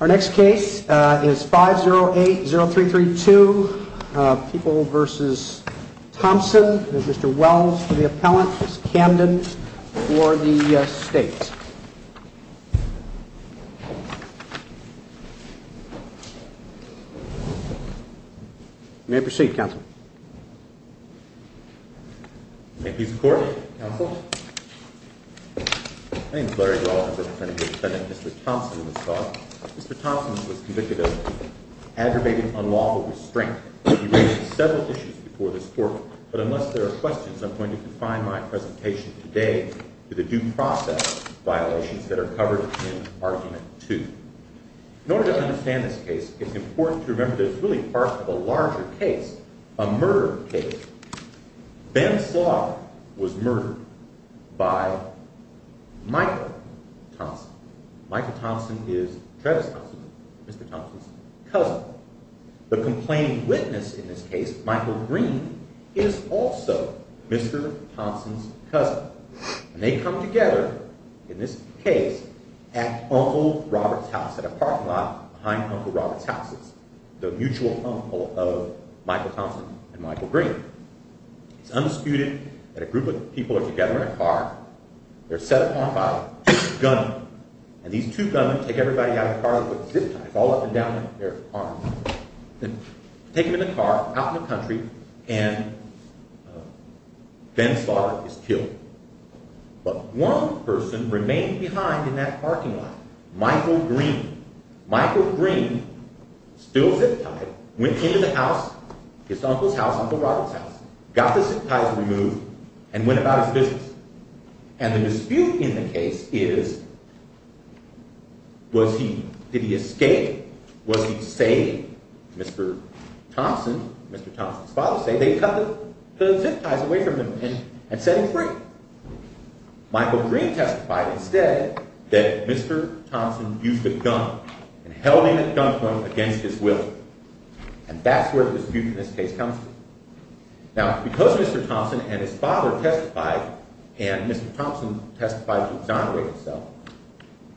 Our next case is 5080332, People v. Thompson. It is Mr. Wells for the appellant, Ms. Camden for the state. You may proceed, Counsel. Thank you for your support, Counsel. My name is Larry Dawkins. I'm here defending Mr. Thompson in this case. Mr. Thompson was convicted of aggravated unlawful restraint. He raised several issues before this court, but unless there are questions, I'm going to define my presentation today to the due process violations that are covered in Argument 2. In order to understand this case, it's important to remember that it's really part of a larger case, a murder case. Ben Slott was murdered by Michael Thompson. Michael Thompson is Travis Thompson, Mr. Thompson's cousin. The complaining witness in this case, Michael Green, is also Mr. Thompson's cousin. They come together in this case at Uncle Robert's house, at a parking lot behind Uncle Robert's house. It's the mutual home of Michael Thompson and Michael Green. It's undisputed that a group of people are together in a car. They're set upon by two gunmen. And these two gunmen take everybody out of the car with zip ties all up and down their arms. Take them in the car, out in the country, and Ben Slott is killed. But one person remained behind in that parking lot. Michael Green. Michael Green, still zip tied, went into the house, his uncle's house, Uncle Robert's house, got the zip ties removed, and went about his business. And the dispute in the case is, did he escape? Was he saved? Mr. Thompson, Mr. Thompson's father, said they cut the zip ties away from him and set him free. Michael Green testified instead that Mr. Thompson used a gun and held him at gunpoint against his will. And that's where the dispute in this case comes from. Now, because Mr. Thompson and his father testified, and Mr. Thompson testified to exonerate himself,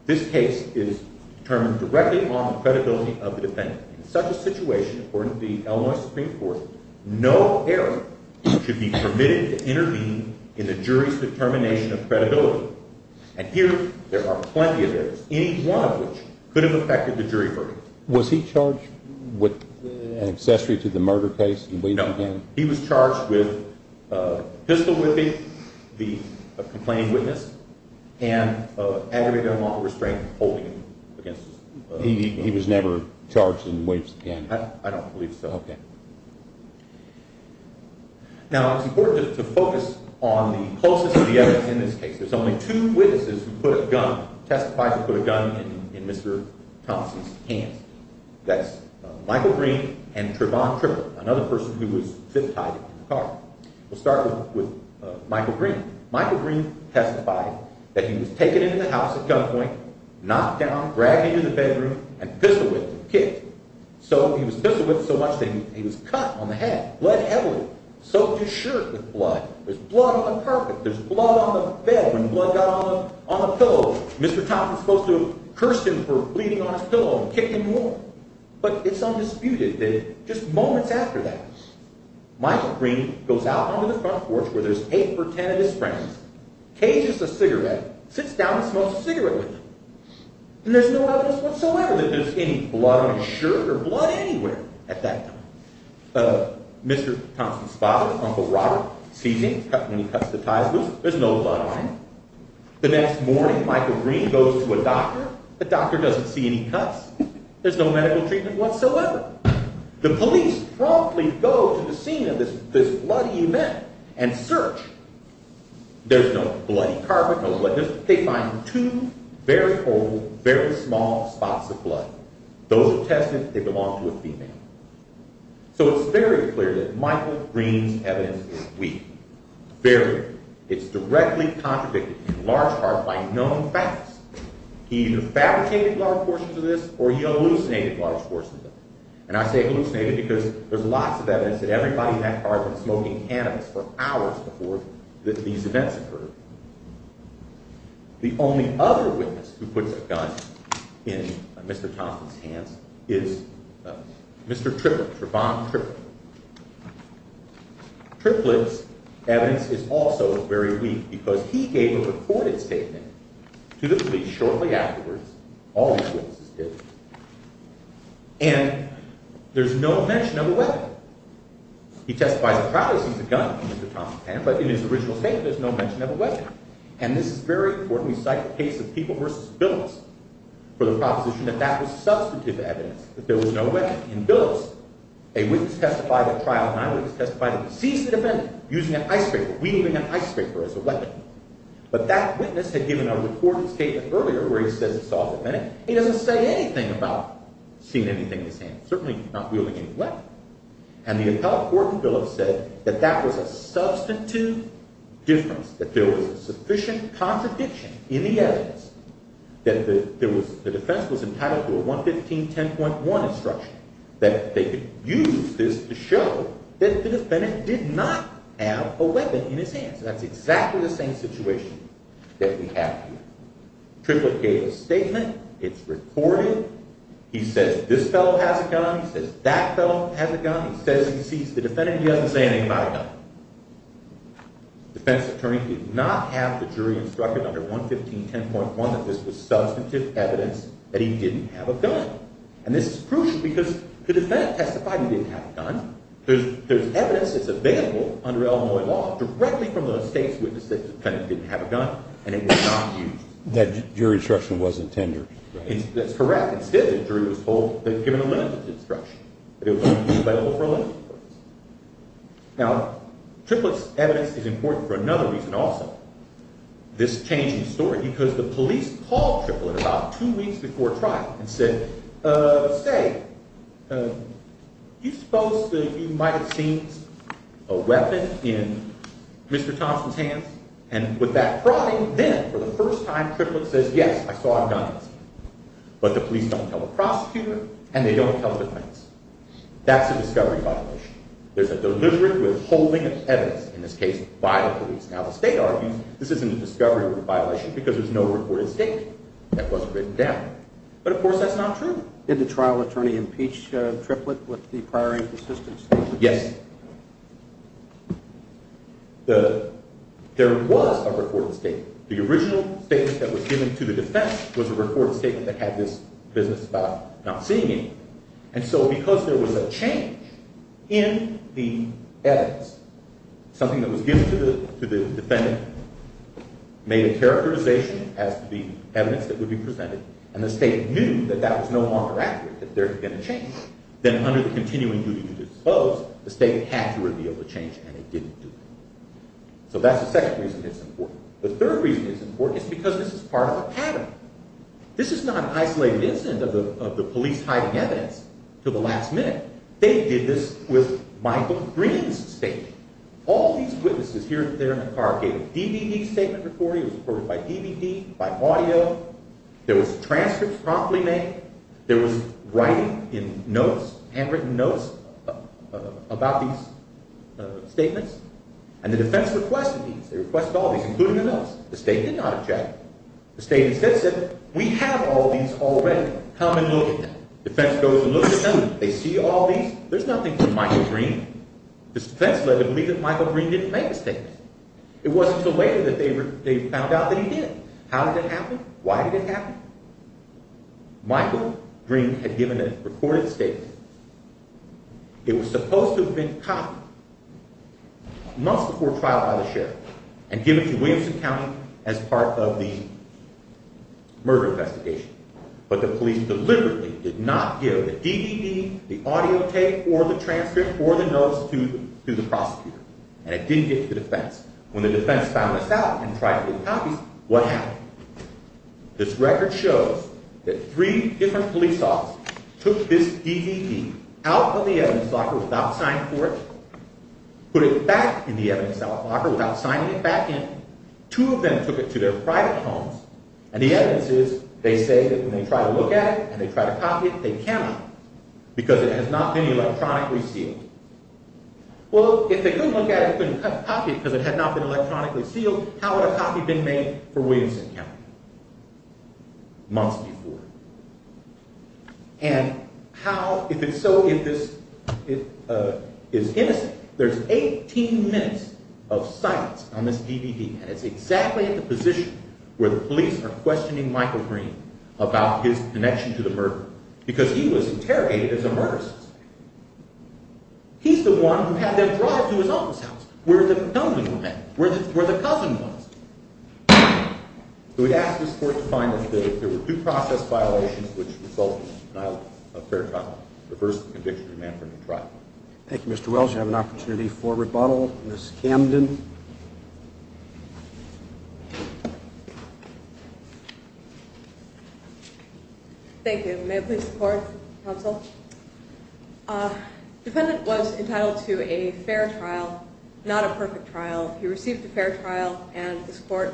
this case is determined directly on the credibility of the defendant. In such a situation, according to the Illinois Supreme Court, no error should be permitted to intervene in the jury's determination of credibility. And here, there are plenty of errors, any one of which could have affected the jury verdict. Was he charged with an accessory to the murder case? No, he was charged with pistol whipping the complaining witness and aggravated unlawful restraint holding him against his will. He was never charged in waifs again? I don't believe so. Okay. Now, it's important to focus on the closest of the evidence in this case. There's only two witnesses who put a gun, testified to put a gun in Mr. Thompson's hands. That's Michael Green and Trevon Tripper, another person who was fit-tied in the car. We'll start with Michael Green. Michael Green testified that he was taken into the house at gunpoint, knocked down, dragged into the bedroom, and pistol-whipped and kicked. So, he was pistol-whipped so much that he was cut on the head, bled heavily, soaked his shirt with blood. There's blood on the carpet, there's blood on the bed. When blood got on the pillow, Mr. Thompson's supposed to have cursed him for bleeding on his pillow and kicked him more. But it's undisputed that just moments after that, Michael Green goes out onto the front porch where there's eight or ten of his friends, cages a cigarette, sits down and smokes a cigarette with them. And there's no evidence whatsoever that there's any blood on his shirt or blood anywhere at that time. Mr. Thompson's father, Uncle Robert, sees him when he cuts the ties loose. There's no blood on him. The next morning, Michael Green goes to a doctor. The doctor doesn't see any cuts. There's no medical treatment whatsoever. The police promptly go to the scene of this bloody event and search. There's no bloody carpet, no blood. They find two very old, very small spots of blood. Those are tested. They belong to a female. So it's very clear that Michael Green's evidence is weak. Very weak. It's directly contradicted in large part by known facts. He either fabricated large portions of this or he hallucinated large portions of it. And I say hallucinated because there's lots of evidence that everybody in that apartment was smoking cannabis for hours before these events occurred. The only other witness who puts a gun in Mr. Thompson's hands is Mr. Triplett, Trevon Triplett. Triplett's evidence is also very weak because he gave a recorded statement to the police shortly afterwards. All these witnesses did. And there's no mention of a weapon. He testifies at trial that he sees a gun in Mr. Thompson's hand, but in his original statement there's no mention of a weapon. And this is very important. We cite the case of People v. Billups for the proposition that that was substantive evidence, that there was no weapon. In Billups, a witness testified at trial, an eyewitness testified of a deceased defendant using an icebreaker, wielding an icebreaker as a weapon. But that witness had given a recorded statement earlier where he says he saw the defendant. He doesn't say anything about seeing anything in his hands, certainly not wielding any weapon. And the appellate court in Billups said that that was a substantive difference, that there was a sufficient contradiction in the evidence, that the defense was entitled to a 115-10.1 instruction, that they could use this to show that the defendant did not have a weapon in his hands. And that's exactly the same situation that we have here. Triplett gave a statement. It's recorded. He says this fellow has a gun. He says that fellow has a gun. He says he sees the defendant. He doesn't say anything about a gun. The defense attorney did not have the jury instructed under 115-10.1 that this was substantive evidence that he didn't have a gun. And this is crucial because the defendant testified he didn't have a gun. There's evidence that's available under Illinois law directly from the state's witness that the defendant didn't have a gun, and it was not used. That jury instruction wasn't tendered. That's correct. Instead, the jury was told they'd given a limited instruction, that it was only available for a limited period. Now, Triplett's evidence is important for another reason also. This changing story because the police called Triplett about two weeks before trial and said, say, you suppose that you might have seen a weapon in Mr. Thompson's hands? And with that prodding, then, for the first time, Triplett says, yes, I saw a gun. But the police don't tell the prosecutor, and they don't tell the defense. That's a discovery violation. There's a deliberate withholding of evidence, in this case, by the police. Now, the state argues this isn't a discovery violation because there's no recorded statement that wasn't written down. But, of course, that's not true. Did the trial attorney impeach Triplett with the prior insistence? Yes. There was a recorded statement. The original statement that was given to the defense was a recorded statement that had this business about not seeing anything. And so because there was a change in the evidence, something that was given to the defendant, made a characterization as the evidence that would be presented, and the state knew that that was no longer accurate, that there had been a change, then under the continuing duty to dispose, the state had to reveal the change, and it didn't do it. So that's the second reason it's important. The third reason it's important is because this is part of a pattern. This is not an isolated incident of the police hiding evidence until the last minute. They did this with Michael Green's statement. All these witnesses here and there in the car gave a DVD statement recording. It was recorded by DVD, by audio. There was transcripts promptly made. There was writing in notes, handwritten notes, about these statements. And the defense requested these. They requested all these, including the notes. The state did not object. The state instead said, we have all these already. Come and look at them. The defense goes and looks at them. They see all these. There's nothing from Michael Green. The defense led to believe that Michael Green didn't make the statements. It wasn't until later that they found out that he did. How did it happen? Why did it happen? Michael Green had given a recorded statement. It was supposed to have been copied months before trial by the sheriff and given to Williamson County as part of the murder investigation. But the police deliberately did not give the DVD, the audio tape, or the transcript or the notes to the prosecutor. And it didn't get to the defense. When the defense found this out and tried to get copies, what happened? This record shows that three different police officers took this DVD out of the evidence locker without signing for it, put it back in the evidence locker without signing it back in. Two of them took it to their private homes, and the evidence is they say that when they try to look at it and they try to copy it, they cannot because it has not been electronically sealed. Well, if they couldn't look at it and couldn't copy it because it had not been electronically sealed, how would a copy have been made for Williamson County months before? And how, if it's so, if this is innocent? There's 18 minutes of silence on this DVD, and it's exactly at the position where the police are questioning Michael Green about his connection to the murder because he was interrogated as a murderer. He's the one who had them drive to his office house where the family were met, where the cousin was. So we'd ask this court to find if there were due process violations which result in denial of fair trial. Reverse the conviction and demand for a new trial. Thank you, Mr. Wells. You have an opportunity for rebuttal. Ms. Camden. Thank you. May I please report, counsel? The defendant was entitled to a fair trial, not a perfect trial. He received a fair trial, and this court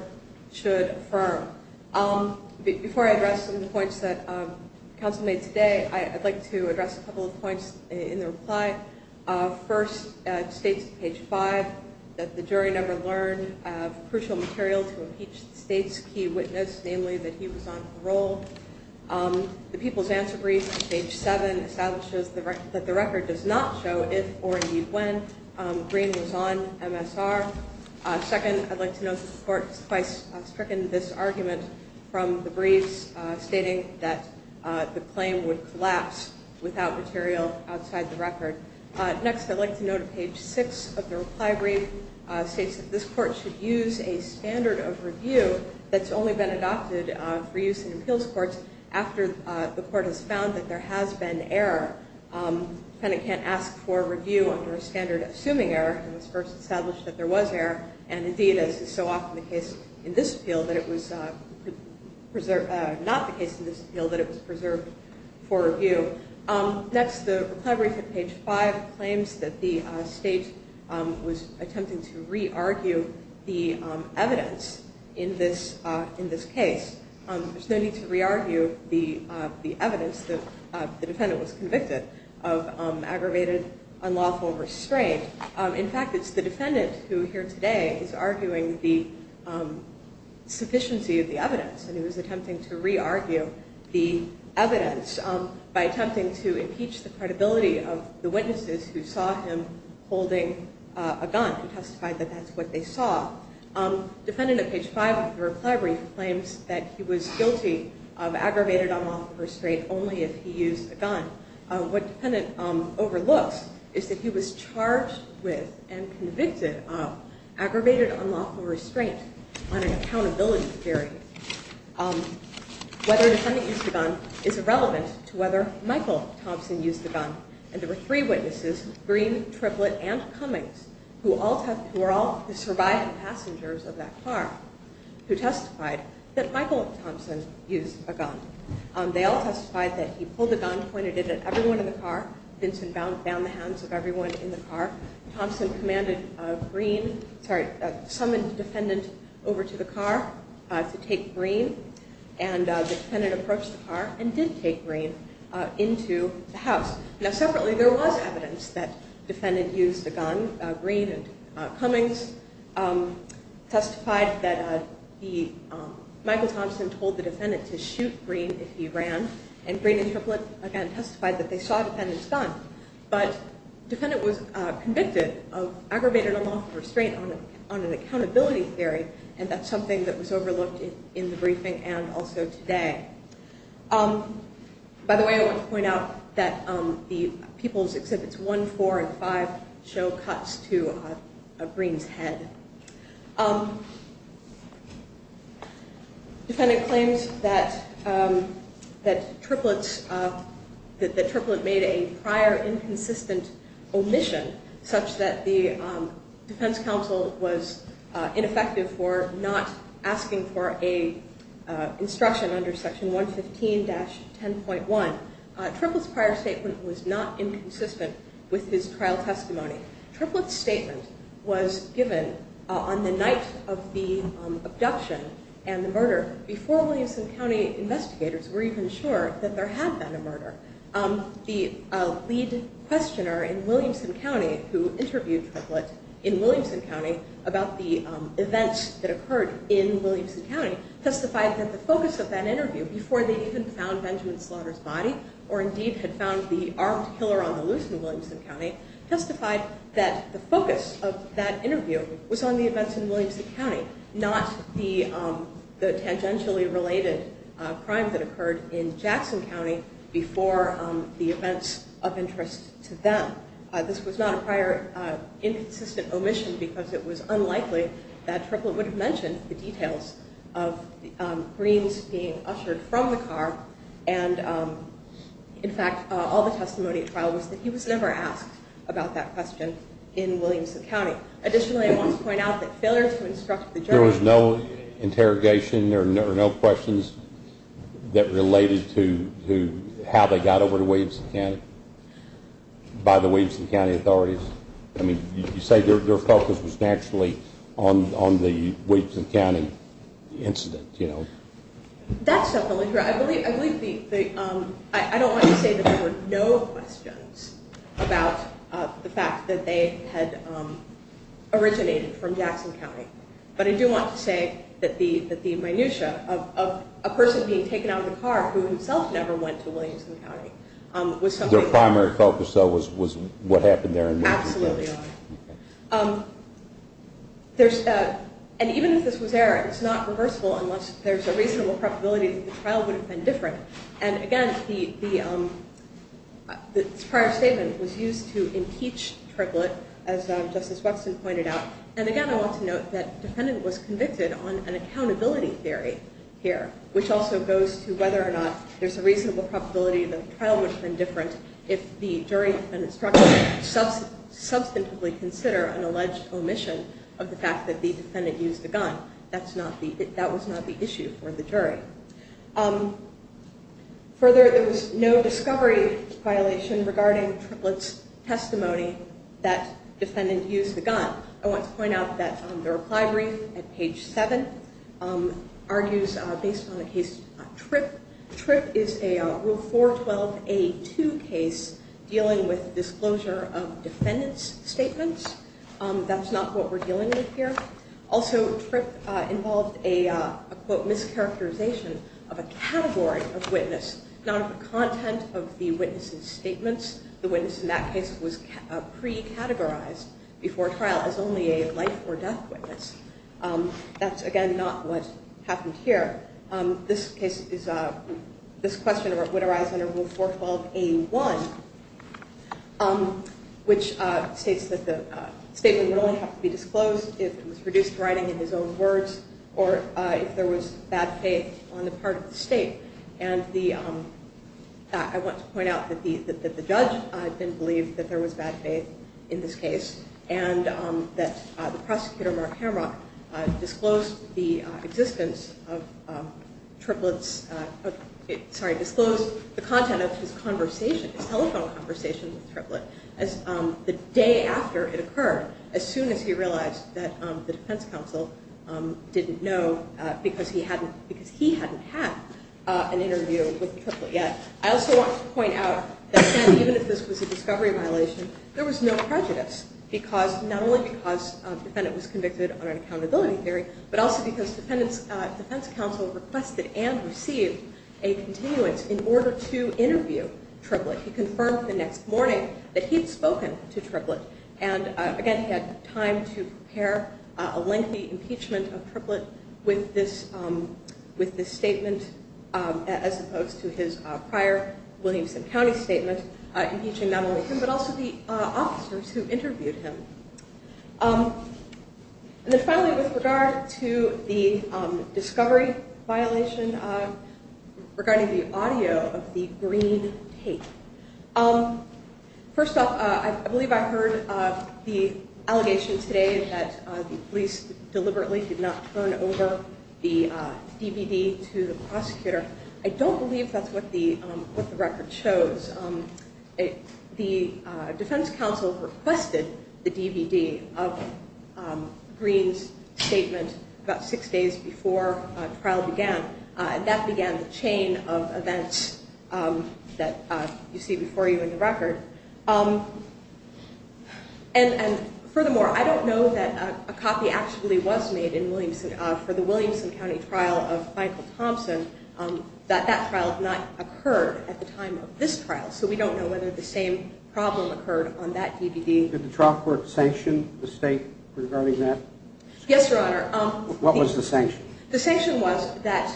should affirm. Before I address some of the points that counsel made today, I'd like to address a couple of points in the reply. First, it states on page 5 that the jury never learned of crucial material to impeach the state's key witness, namely that he was on parole. The people's answer brief on page 7 establishes that the record does not show if or indeed when Green was on MSR. Second, I'd like to note that the court has twice stricken this argument from the briefs stating that the claim would collapse without material outside the record. Next, I'd like to note on page 6 of the reply brief states that this court should use a standard of review that's only been adopted for use in appeals courts after the court has found that there has been error. The defendant can't ask for a review under a standard assuming error. It was first established that there was error, and indeed as is so often the case in this appeal that it was preserved for review. Next, the reply brief on page 5 claims that the state was attempting to re-argue the evidence in this case. There's no need to re-argue the evidence that the defendant was convicted of aggravated unlawful restraint. In fact, it's the defendant who here today is arguing the sufficiency of the evidence, and he was attempting to re-argue the evidence by attempting to impeach the credibility of the witnesses who saw him holding a gun and testified that that's what they saw. Defendant at page 5 of the reply brief claims that he was guilty of aggravated unlawful restraint only if he used a gun. What the defendant overlooks is that he was charged with and convicted of aggravated unlawful restraint on an accountability theory. Whether the defendant used a gun is irrelevant to whether Michael Thompson used a gun, and there were three witnesses, Green, Triplett, and Cummings, who were all the surviving passengers of that car who testified that Michael Thompson used a gun. They all testified that he pulled a gun, pointed it at everyone in the car. Vincent bound the hands of everyone in the car. Thompson commanded Green, sorry, summoned the defendant over to the car to take Green, and the defendant approached the car and did take Green into the house. Now, separately, there was evidence that the defendant used a gun. Green and Cummings testified that Michael Thompson told the defendant to shoot Green if he ran, and Green and Triplett, again, testified that they saw the defendant's gun. But the defendant was convicted of aggravated unlawful restraint on an accountability theory, and that's something that was overlooked in the briefing and also today. By the way, I want to point out that the People's Exhibits I, IV, and V show cuts to Green's head. Defendant claims that Triplett made a prior inconsistent omission such that the defense counsel was ineffective for not asking for a instruction under Section 115-10.1. Triplett's prior statement was not inconsistent with his trial testimony. Triplett's statement was given on the night of the abduction and the murder before Williamson County investigators were even sure that there had been a murder. The lead questioner in Williamson County who interviewed Triplett in Williamson County about the events that occurred in Williamson County testified that the focus of that interview, before they even found Benjamin Slaughter's body, or indeed had found the armed killer on the loose in Williamson County, testified that the focus of that interview was on the events in Williamson County, not the tangentially related crime that occurred in Jackson County before the events of interest to them. This was not a prior inconsistent omission because it was unlikely that there was any evidence of greens being ushered from the car. In fact, all the testimony at trial was that he was never asked about that question in Williamson County. Additionally, I want to point out that failure to instruct the jury... There was no interrogation, there were no questions that related to how they got over to Williamson County by the Williamson County authorities? You say their focus was naturally on the Williamson County incident. That's definitely true. I don't want to say that there were no questions about the fact that they had originated from Jackson County, but I do want to say that the minutia of a person being taken out of the car who himself never went to Williamson County was something... Their primary focus, though, was what happened there in Williamson County? Absolutely. And even if this was error, it's not reversible unless there's a reasonable probability that the trial would have been different. And again, this prior statement was used to impeach Triplett, as Justice Wexton pointed out. And again, I want to note that the defendant was convicted on an accountability theory here, which also goes to whether or not there's a possibility if the jury and the structure substantively consider an alleged omission of the fact that the defendant used the gun. That was not the issue for the jury. Further, there was no discovery violation regarding Triplett's testimony that the defendant used the gun. I want to point out that the reply brief at page 7 argues, based on the case Tripp, Tripp is a Rule 412A2 case dealing with disclosure of defendant's statements. That's not what we're dealing with here. Also, Tripp involved a, quote, mischaracterization of a category of witness, not of the content of the witness's statements. The witness in that case was pre-categorized before trial as only a life or death witness. That's, again, not what happened here. This case is, this question would arise under Rule 412A1, which states that the statement would only have to be disclosed if it was reduced to writing in his own words or if there was bad faith on the part of the state. And I want to point out that the judge didn't believe that there was bad faith in this case and that the prosecutor, Mark Hamrock, disclosed the content of his telephone conversation with Tripp as the day after it occurred, as soon as he realized that the defense counsel didn't know because he hadn't had an interview with Tripp yet. I also want to point out that, again, even if this was a discovery violation, there was no prejudice, not only because the defendant was convicted on an and received a continuance in order to interview Tripp. He confirmed the next morning that he'd spoken to Tripp, and, again, he had time to prepare a lengthy impeachment of Tripp with this statement as opposed to his prior Williamson County statement, impeaching not only him but also the officers who interviewed him. And then, finally, with regard to the discovery violation, regarding the audio of the green tape. First off, I believe I heard the allegation today that the police deliberately did not turn over the DVD to the prosecutor. I don't believe that's what the record shows. The defense counsel requested the DVD of Green's statement about six days before the trial began, and that began the chain of events that you see before you in the record. And, furthermore, I don't know that a copy actually was made for the Williamson County trial of Michael Thompson, that that trial had not occurred at the time of this trial. So we don't know whether the same problem occurred on that DVD. Did the trial court sanction the state regarding that? Yes, Your Honor. What was the sanction? The sanction was that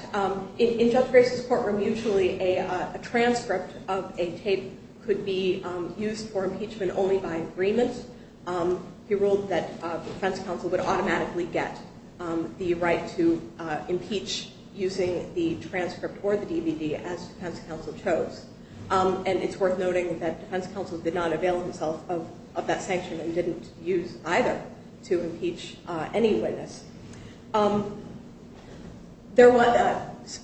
in Judge Grace's courtroom, usually a transcript of a tape could be used for impeachment only by agreement. He ruled that the defense counsel would automatically get the right to impeach using the transcript or the DVD as the defense counsel chose. And it's worth noting that the defense counsel did not avail himself of that sanction and didn't use either to impeach any witness.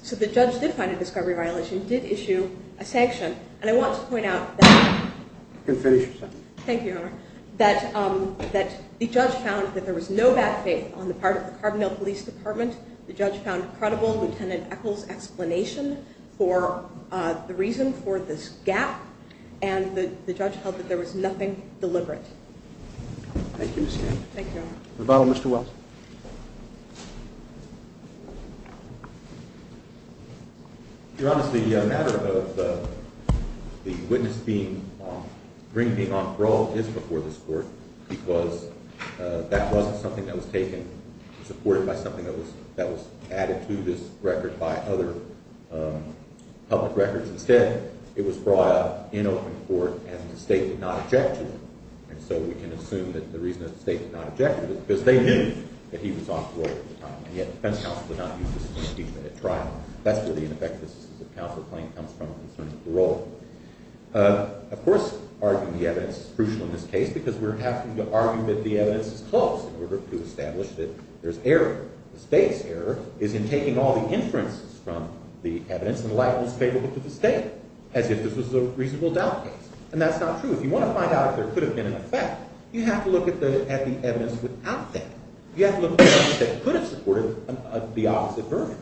So the judge did find a discovery violation, did issue a sanction, and I want to point out that the judge found that there was no bad faith on the part of the Carbondale Police Department. The judge found credible Lieutenant Echols' explanation for the reason for this gap, and the judge held that there was nothing deliberate. Thank you, Ms. Grace. Thank you, Your Honor. The final, Mr. Wells. Your Honor, the matter of the witness being on parole is before this court because that wasn't something that was taken, supported by something that was added to this record by other public records. Instead, it was brought up in open court and the state did not object to it. And so we can assume that the reason that the state did not object to it is because they knew that he was off parole at the time, and yet the defense counsel did not use this to impeach him at trial. That's where the ineffectiveness of the counsel claim comes from in terms of parole. Of course, arguing the evidence is crucial in this case because we're having to argue that the evidence is close in order to establish that there's error. The state's error is in taking all the inferences from the evidence and likening it to the state, as if this was a reasonable doubt case. And that's not true. If you want to find out if there could have been an effect, you have to look at the evidence without that. You have to look at evidence that could have supported the opposite version.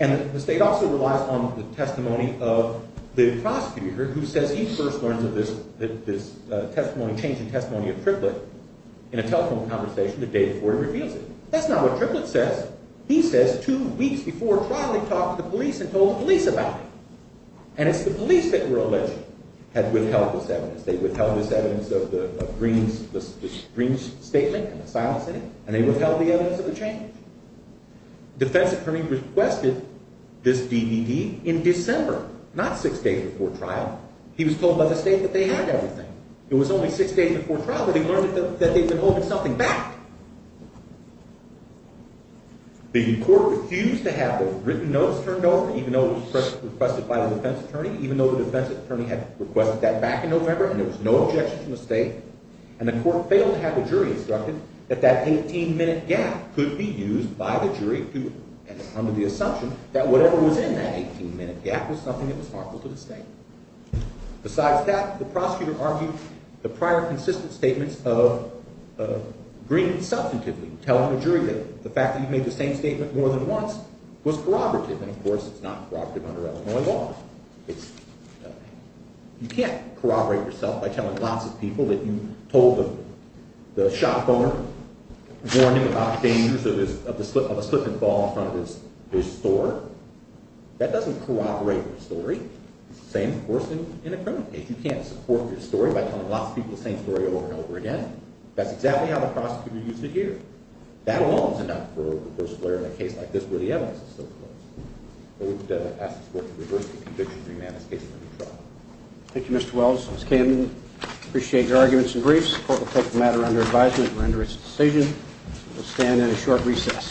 And the state also relies on the testimony of the prosecutor who says he first learns of this change in testimony of Triplett in a telephone conversation the day before he reveals it. That's not what Triplett says. He says two weeks before trial he talked to the police and told the police about it. And it's the police that were alleged had withheld this evidence. They withheld this evidence of Green's statement and the silence in it, and they withheld the evidence of the change. The defense attorney requested this DVD in December, not six days before trial. He was told by the state that they had everything. It was only six days before trial that he learned that they had been holding something back. The court refused to have the written notes turned over, even though it was requested by the defense attorney, even though the defense attorney had requested that back in November and there was no objection from the state. And the court failed to have the jury instructed that that 18-minute gap could be used by the jury under the assumption that whatever was in that 18-minute gap was something that was harmful to the state. Besides that, the prosecutor argued the prior consistent statements of Green substantively tell the jury that the fact that he made the same statement more than once was corroborative, and of course it's not corroborative under Illinois law. You can't corroborate yourself by telling lots of people that you told the shop owner a warning about the dangers of a slip-and-fall in front of his store. That doesn't corroborate your story. It's the same, of course, in a criminal case. You can't support your story by telling lots of people the same story over and over again. That's exactly how the prosecutor used it here. That alone is enough for a reversal error in a case like this where the evidence is so close. I would ask the court to reverse the conviction of the man whose case is under trial. Thank you, Mr. Wells. Ms. Camden, I appreciate your arguments and briefs. The court will take the matter under advisement and render its decision. We'll stand at a short recess.